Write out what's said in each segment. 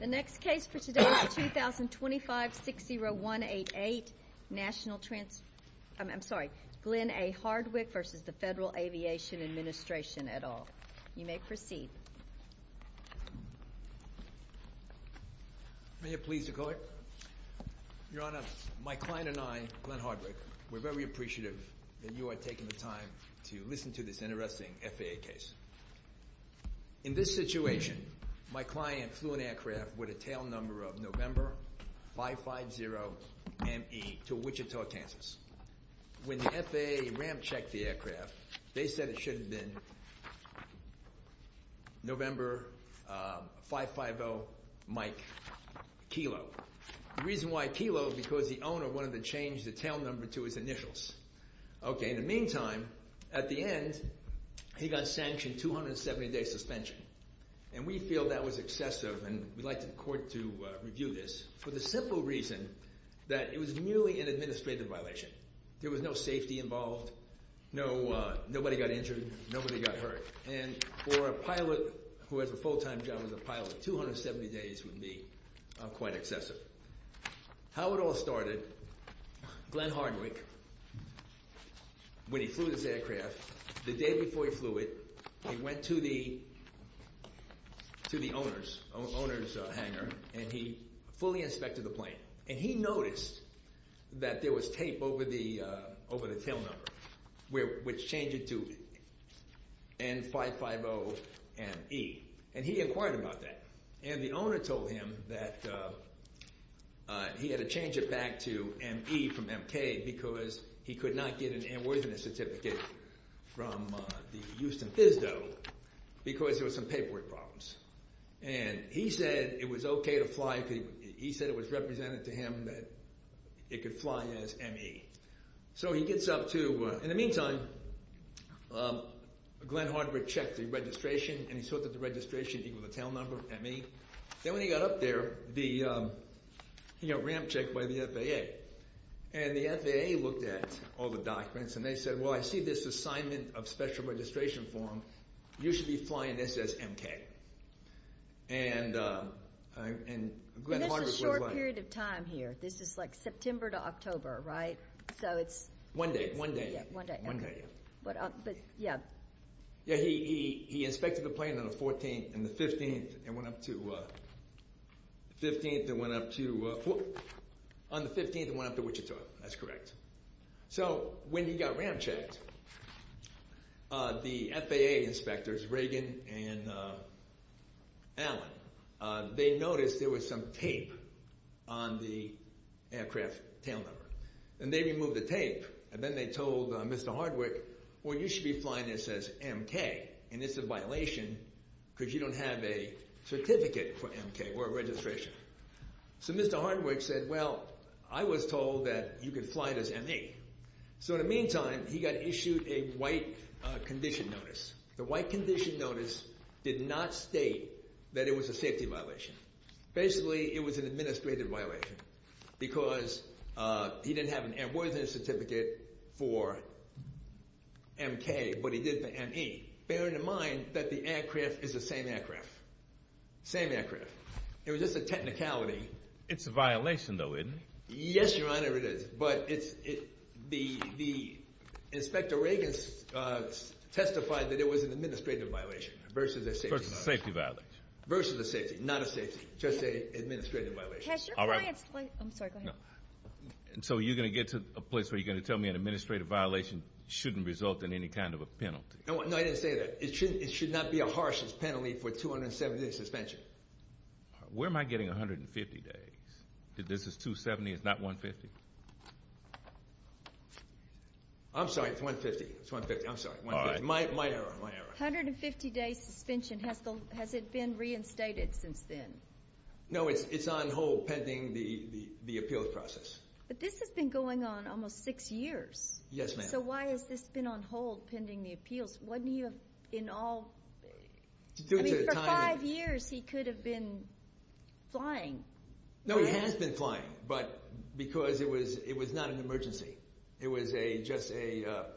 The next case for today is 2025-60188, Glenn A. Hardwick v. Federal Aviation Administration, et al. You may proceed. May it please the Court? Your Honor, my client and I, Glenn Hardwick, we're very appreciative that you are taking the time to listen to this interesting FAA case. In this situation, my client flew an aircraft with a tail number of N550ME to Wichita, Kansas. When the FAA ramp-checked the aircraft, they said it should have been N550MK. The reason why kilo is because the owner wanted to change the tail number to his initials. Okay, in the meantime, at the end, he got sanctioned 270-day suspension. And we feel that was excessive, and we'd like the Court to review this, for the simple reason that it was merely an administrative violation. There was no safety involved, nobody got injured, nobody got hurt. And for a pilot who has a full-time job as a pilot, 270 days would be quite excessive. How it all started, Glenn Hardwick, when he flew this aircraft, the day before he flew it, he went to the owner's hangar, and he fully inspected the plane. And he noticed that there was tape over the tail number, which changed it to N550ME. And he inquired about that. And the owner told him that he had to change it back to ME from MK, because he could not get an airworthiness certificate from the Houston FISDO, because there were some paperwork problems. And he said it was okay to fly, he said it was represented to him that it could fly as ME. So he gets up to, in the meantime, Glenn Hardwick checked the registration, and he saw that the registration equaled the tail number, ME. Then when he got up there, he got a ramp check by the FAA. And the FAA looked at all the documents, and they said, well, I see this assignment of special registration form, you should be flying this as MK. And Glenn Hardwick was like— And that's a short period of time here. This is like September to October, right? So it's— One day, one day. One day, okay. But, yeah. Yeah, he inspected the plane on the 14th and the 15th and went up to— 15th and went up to—on the 15th and went up to Wichita. That's correct. So when he got ramp checked, the FAA inspectors, Reagan and Allen, they noticed there was some tape on the aircraft tail number. And they removed the tape, and then they told Mr. Hardwick, well, you should be flying this as MK, and it's a violation because you don't have a certificate for MK or a registration. So Mr. Hardwick said, well, I was told that you could fly it as ME. So in the meantime, he got issued a white condition notice. The white condition notice did not state that it was a safety violation. Basically, it was an administrative violation because he didn't have an airworthiness certificate for MK, but he did for ME, bearing in mind that the aircraft is the same aircraft, same aircraft. It was just a technicality. It's a violation, though, isn't it? Yes, Your Honor, it is. But the inspector, Reagan, testified that it was an administrative violation versus a safety violation. Versus a safety violation. Versus a safety, not a safety, just an administrative violation. I'm sorry, go ahead. So you're going to get to a place where you're going to tell me an administrative violation shouldn't result in any kind of a penalty? No, I didn't say that. It should not be a harsh penalty for 270-day suspension. Where am I getting 150 days? This is 270, it's not 150? I'm sorry, it's 150. It's 150, I'm sorry. My error, my error. 150-day suspension, has it been reinstated since then? No, it's on hold pending the appeals process. But this has been going on almost six years. Yes, ma'am. So why has this been on hold pending the appeals? Wasn't he in all, I mean, for five years he could have been flying. No, he has been flying, but because it was not an emergency. It was just a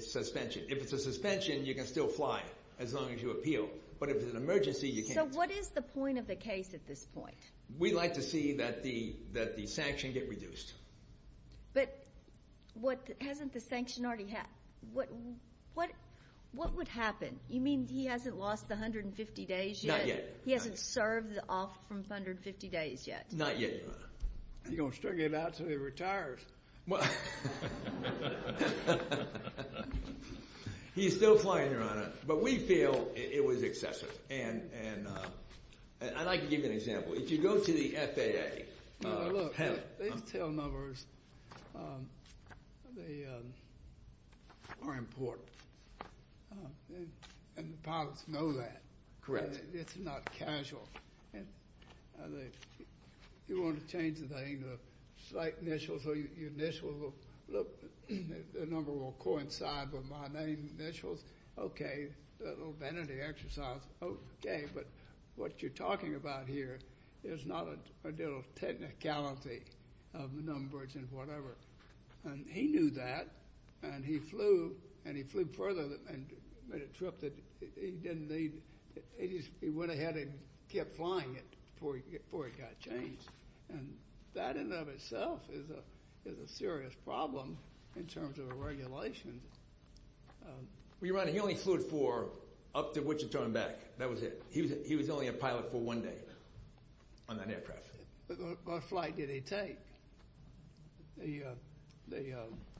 suspension. If it's a suspension, you can still fly as long as you appeal. But if it's an emergency, you can't. So what is the point of the case at this point? We'd like to see that the sanction get reduced. But hasn't the sanction already happened? What would happen? You mean he hasn't lost the 150 days yet? Not yet. He hasn't served off from 150 days yet? Not yet, Your Honor. He's going to struggle it out until he retires. He's still flying, Your Honor. But we feel it was excessive. And I'd like to give you an example. If you go to the FAA. These tail numbers, they are important. And the pilots know that. Correct. It's not casual. You want to change the name to a slight initial. So your initial will look. The number will coincide with my name initials. Okay. A little vanity exercise. Okay. But what you're talking about here is not a deal of technicality of numbers and whatever. And he knew that. And he flew. And he flew further and made a trip that he didn't need. He went ahead and kept flying it before it got changed. And that in and of itself is a serious problem in terms of a regulation. Well, Your Honor, he only flew it for up to Wichita and back. That was it. He was only a pilot for one day on that aircraft. What flight did he take?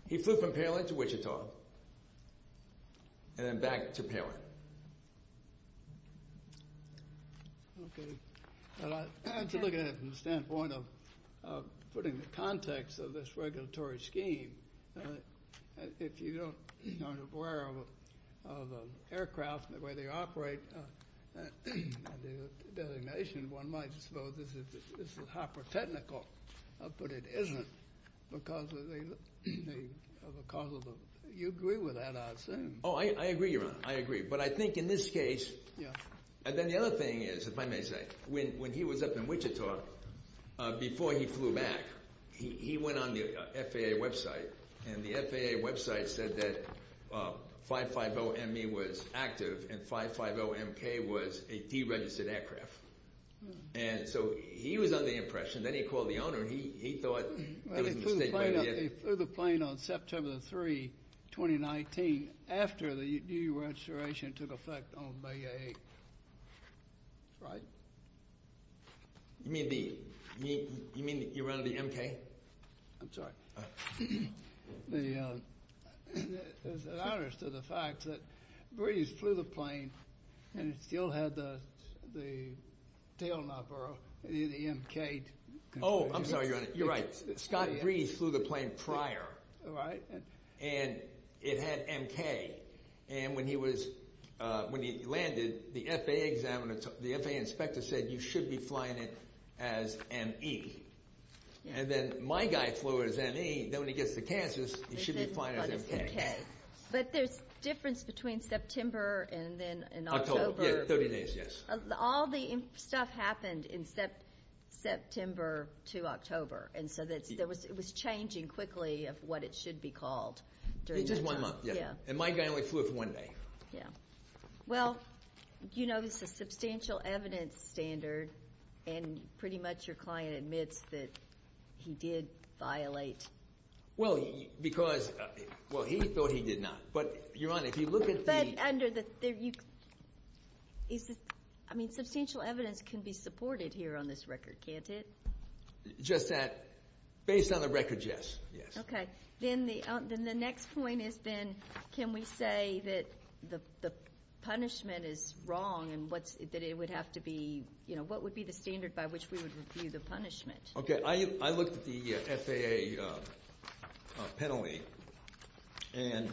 He flew from Palin to Wichita and then back to Palin. Okay. As you look at it from the standpoint of putting the context of this regulatory scheme, if you're not aware of aircraft and the way they operate, and the designation, one might suppose this is hyper-technical. But it isn't because of the—you agree with that, I assume. Oh, I agree, Your Honor. I agree. But I think in this case— Yeah. And then the other thing is, if I may say, when he was up in Wichita, before he flew back, he went on the FAA website. And the FAA website said that 550ME was active and 550MK was a deregistered aircraft. And so he was under the impression. Then he called the owner. He thought it was a mistake by the— He flew the plane on September the 3rd, 2019, after the new registration took effect on Bay A8. That's right. You mean the—you mean you were under the MK? I'm sorry. The—it was an outage to the fact that Breeze flew the plane and it still had the tail number, the MK. Oh, I'm sorry, Your Honor. You're right. Scott Breeze flew the plane prior. Right. And it had MK. And when he was—when he landed, the FAA examiner—the FAA inspector said, you should be flying it as ME. And then my guy flew it as ME. Then when he gets to Kansas, he should be flying it as MK. But there's a difference between September and then in October. October, yeah, 30 days, yes. All the stuff happened in September to October. And so it was changing quickly of what it should be called during that time. Just one month, yeah. And my guy only flew it for one day. Yeah. Well, you know this is a substantial evidence standard, and pretty much your client admits that he did violate. Well, because—well, he thought he did not. But, Your Honor, if you look at the— But under the—I mean, substantial evidence can be supported here on this record, can't it? Just that—based on the record, yes, yes. Okay. Then the next point is then can we say that the punishment is wrong and that it would have to be—you know, what would be the standard by which we would review the punishment? Okay. I looked at the FAA penalty and—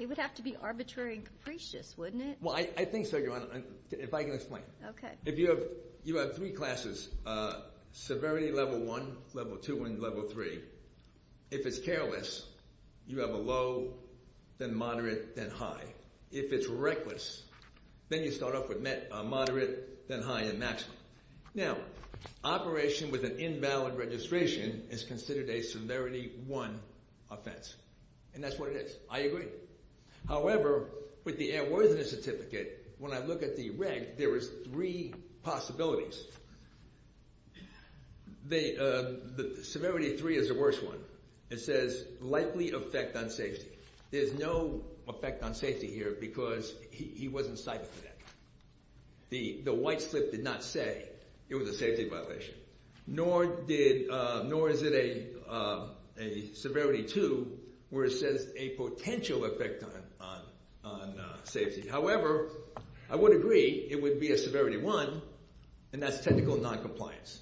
It would have to be arbitrary and capricious, wouldn't it? Well, I think so, Your Honor, if I can explain. Okay. If you have three classes, severity level one, level two, and level three, if it's careless, you have a low, then moderate, then high. If it's reckless, then you start off with moderate, then high, and maximum. Now, operation with an invalid registration is considered a severity one offense, and that's what it is. I agree. However, with the airworthiness certificate, when I look at the reg, there is three possibilities. Severity three is the worst one. It says likely effect on safety. There's no effect on safety here because he wasn't cited for that. The white slip did not say it was a safety violation, nor is it a severity two where it says a potential effect on safety. However, I would agree it would be a severity one, and that's technical noncompliance.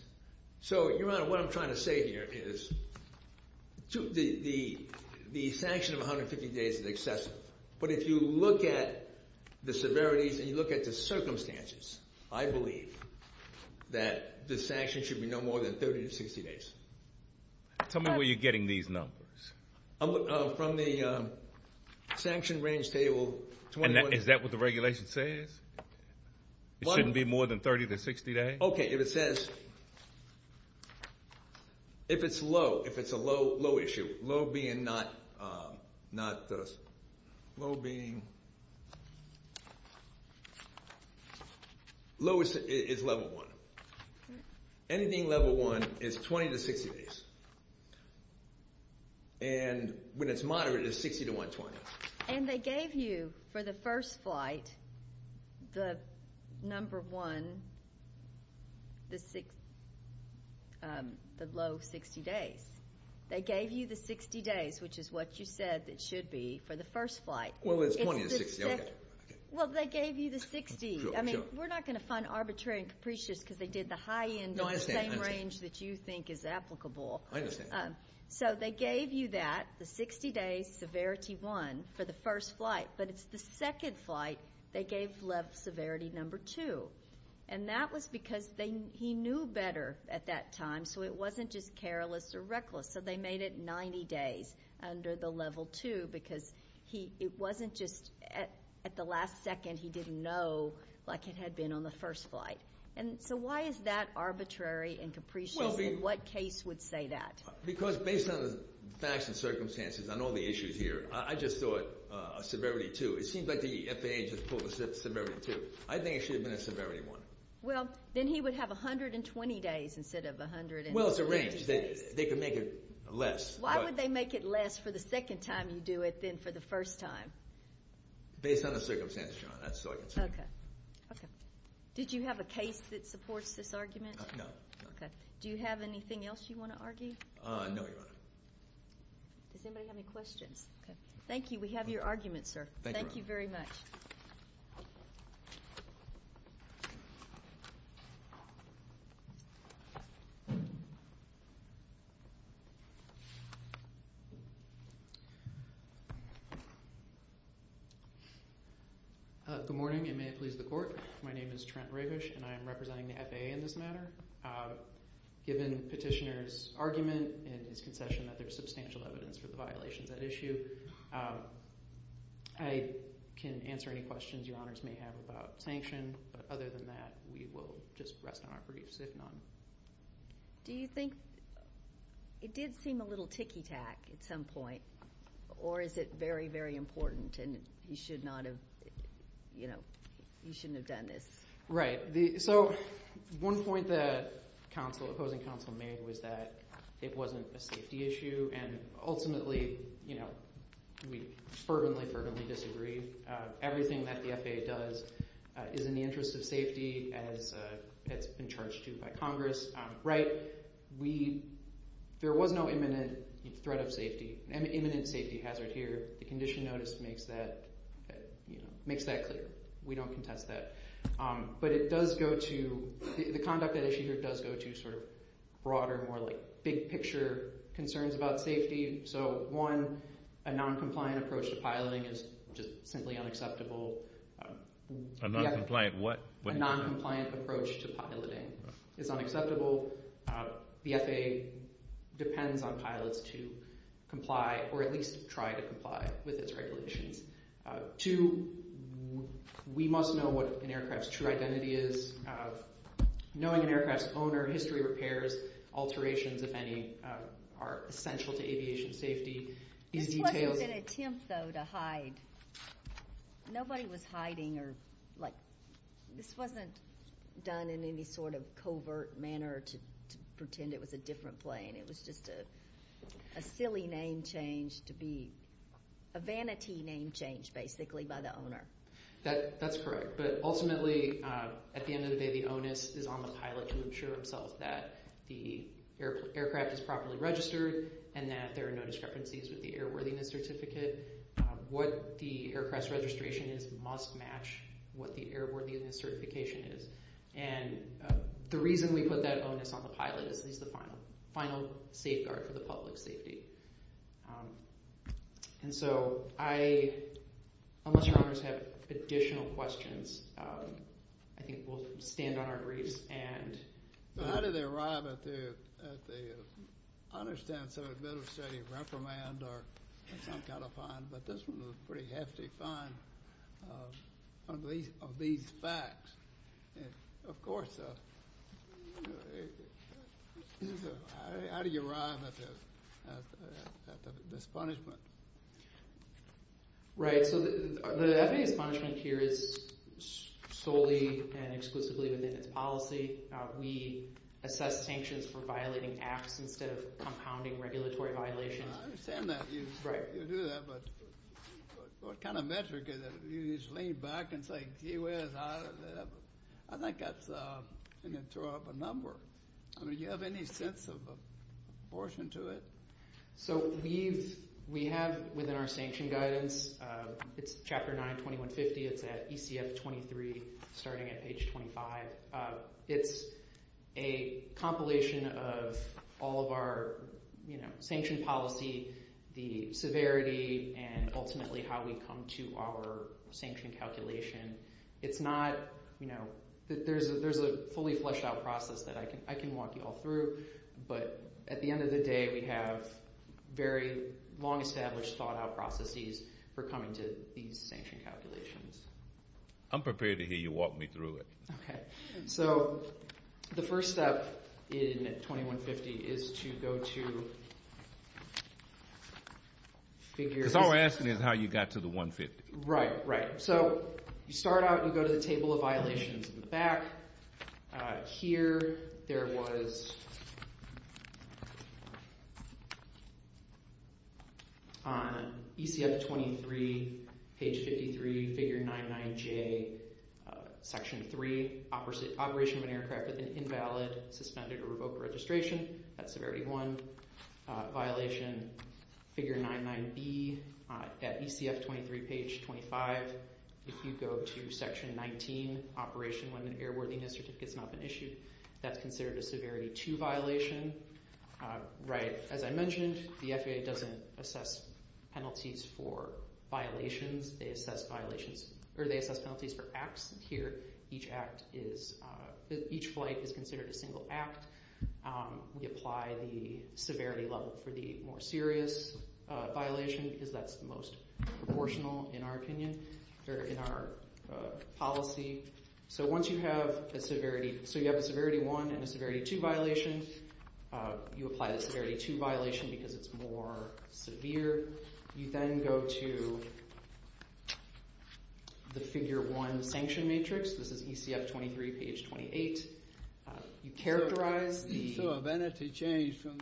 So, Your Honor, what I'm trying to say here is the sanction of 150 days is excessive. But if you look at the severities and you look at the circumstances, I believe that the sanction should be no more than 30 to 60 days. Tell me where you're getting these numbers. From the sanction range table. Is that what the regulation says? It shouldn't be more than 30 to 60 days? Okay. If it says, if it's low, if it's a low issue, low being not, low being, low is level one. Anything level one is 20 to 60 days. And when it's moderate, it's 60 to 120. And they gave you for the first flight the number one, the low 60 days. They gave you the 60 days, which is what you said it should be for the first flight. Well, it's 20 to 60, okay. Well, they gave you the 60. I mean, we're not going to find arbitrary and capricious because they did the high end in the same range that you think is applicable. I understand. So they gave you that, the 60 days, severity one, for the first flight. But it's the second flight they gave level severity number two. And that was because he knew better at that time, so it wasn't just careless or reckless. So they made it 90 days under the level two because it wasn't just at the last second he didn't know like it had been on the first flight. So why is that arbitrary and capricious, and what case would say that? Because based on the facts and circumstances and all the issues here, I just thought severity two. It seems like the FAA just pulled the severity two. I think it should have been a severity one. Well, then he would have 120 days instead of 140 days. Well, it's arranged. They could make it less. Why would they make it less for the second time you do it than for the first time? Based on the circumstances, John. Okay. Did you have a case that supports this argument? No. Do you have anything else you want to argue? No, Your Honor. Does anybody have any questions? Thank you. We have your argument, sir. Thank you very much. Good morning, and may it please the Court. My name is Trent Ravish, and I am representing the FAA in this matter. Given Petitioner's argument and his concession that there is substantial evidence for the violations at issue, I can answer any questions Your Honors may have about sanction, but other than that, we will just rest on our briefs, if none. Do you think it did seem a little ticky-tack at some point, or is it very, very important, and you should not have done this? Right. So one point the opposing counsel made was that it wasn't a safety issue, and ultimately we fervently, fervently disagree. Everything that the FAA does is in the interest of safety, as it's been charged to by Congress. There was no imminent threat of safety. There was no imminent safety hazard here. The condition notice makes that clear. We don't contest that. But it does go to, the conduct at issue here does go to sort of broader, more like big-picture concerns about safety. So one, a noncompliant approach to piloting is just simply unacceptable. A noncompliant what? A noncompliant approach to piloting is unacceptable. The FAA depends on pilots to comply, or at least try to comply with its regulations. Two, we must know what an aircraft's true identity is. Knowing an aircraft's owner, history, repairs, alterations, if any, are essential to aviation safety. This wasn't an attempt, though, to hide. Nobody was hiding or, like, this wasn't done in any sort of covert manner to pretend it was a different plane. It was just a silly name change to be a vanity name change, basically, by the owner. That's correct. But ultimately, at the end of the day, the onus is on the pilot to ensure himself that the aircraft is properly registered and that there are no discrepancies with the airworthiness certificate. What the aircraft's registration is must match what the airworthiness certification is. And the reason we put that onus on the pilot is that he's the final safeguard for the public's safety. And so I, unless your honors have additional questions, I think we'll stand on our graves. So how did they arrive at the, I understand it's a bit of a steady reprimand or some kind of fine, but this one was a pretty hefty fine of these facts. Of course, how do you arrive at this punishment? Right, so the FAA's punishment here is solely and exclusively within its policy. We assess sanctions for violating acts instead of compounding regulatory violations. I understand that you do that, but what kind of metric is it? You just lean back and say, gee whiz, I think that's going to throw up a number. I mean, do you have any sense of proportion to it? So we have within our sanction guidance, it's Chapter 9, 2150. It's at ECF 23, starting at page 25. It's a compilation of all of our sanction policy, the severity, and ultimately how we come to our sanction calculation. It's not, you know, there's a fully fleshed out process that I can walk you all through. But at the end of the day, we have very long established thought out processes for coming to these sanction calculations. I'm prepared to hear you walk me through it. Okay. So the first step in 2150 is to go to figures. Because all we're asking is how you got to the 150. Right, right. So you start out and you go to the table of violations in the back. Here there was on ECF 23, page 53, figure 99J, section 3, operation of an aircraft with an invalid, suspended, or revoked registration. That's severity 1. Violation figure 99B at ECF 23, page 25. If you go to section 19, operation when an airworthiness certificate has not been issued, that's considered a severity 2 violation. Right, as I mentioned, the FAA doesn't assess penalties for violations. They assess penalties for acts here. Each flight is considered a single act. We apply the severity level for the more serious violation because that's the most proportional in our opinion. They're in our policy. So once you have a severity 1 and a severity 2 violation, you apply the severity 2 violation because it's more severe. You then go to the figure 1 sanction matrix. This is ECF 23, page 28. You characterize. So if entity change from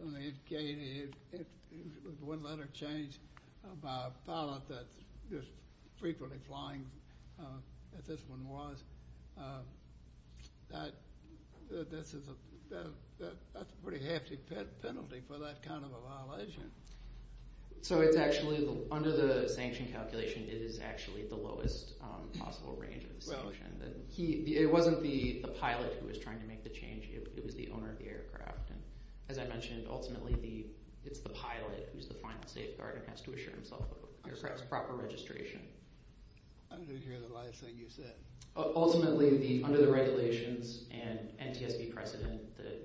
the—one letter change by a pilot that's just frequently flying, as this one was, that's a pretty hefty penalty for that kind of a violation. So it's actually—under the sanction calculation, it is actually the lowest possible range of the sanction. It wasn't the pilot who was trying to make the change. It was the owner of the aircraft. And as I mentioned, ultimately, it's the pilot who's the final safeguard and has to assure himself of the aircraft's proper registration. I didn't hear the last thing you said. Ultimately, under the regulations and NTSB precedent, the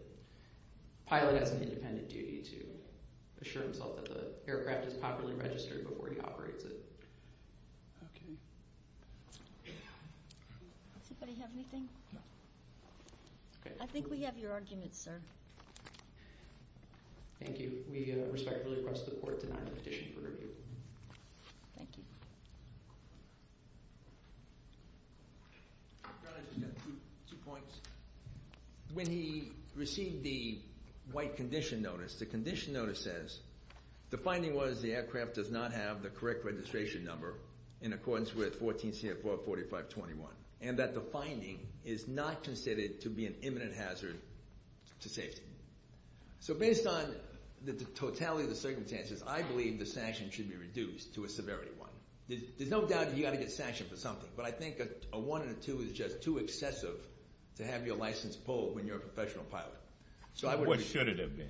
pilot has an independent duty to assure himself that the aircraft is properly registered before he operates it. Okay. Does anybody have anything? No. Okay. I think we have your argument, sir. Thank you. We respectfully request the court to deny the petition for review. Thank you. Your Honor, just two points. When he received the white condition notice, the condition notice says the finding was the aircraft does not have the correct registration number in accordance with 14 CFR 4521 and that the finding is not considered to be an imminent hazard to safety. So based on the totality of the circumstances, I believe the sanction should be reduced to a severity one. There's no doubt you've got to get sanctioned for something, but I think a one and a two is just too excessive to have your license pulled when you're a professional pilot. What should it have been?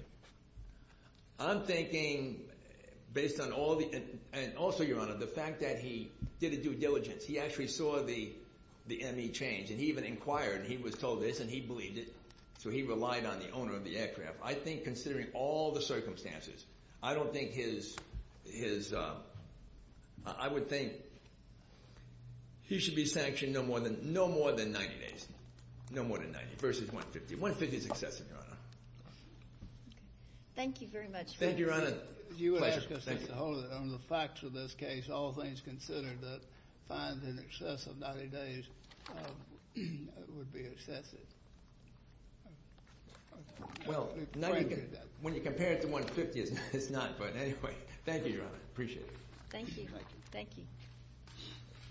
I'm thinking based on all the – and also, Your Honor, the fact that he did a due diligence. He actually saw the ME change, and he even inquired, and he was told this, and he believed it. So he relied on the owner of the aircraft. I think considering all the circumstances, I don't think his – I would think he should be sanctioned no more than 90 days, no more than 90 versus 150. 150 is excessive, Your Honor. Thank you very much. Thank you, Your Honor. Pleasure. On the facts of this case, all things considered, that fines in excess of 90 days would be excessive. Well, when you compare it to 150, it's not. But anyway, thank you, Your Honor. Appreciate it. Thank you.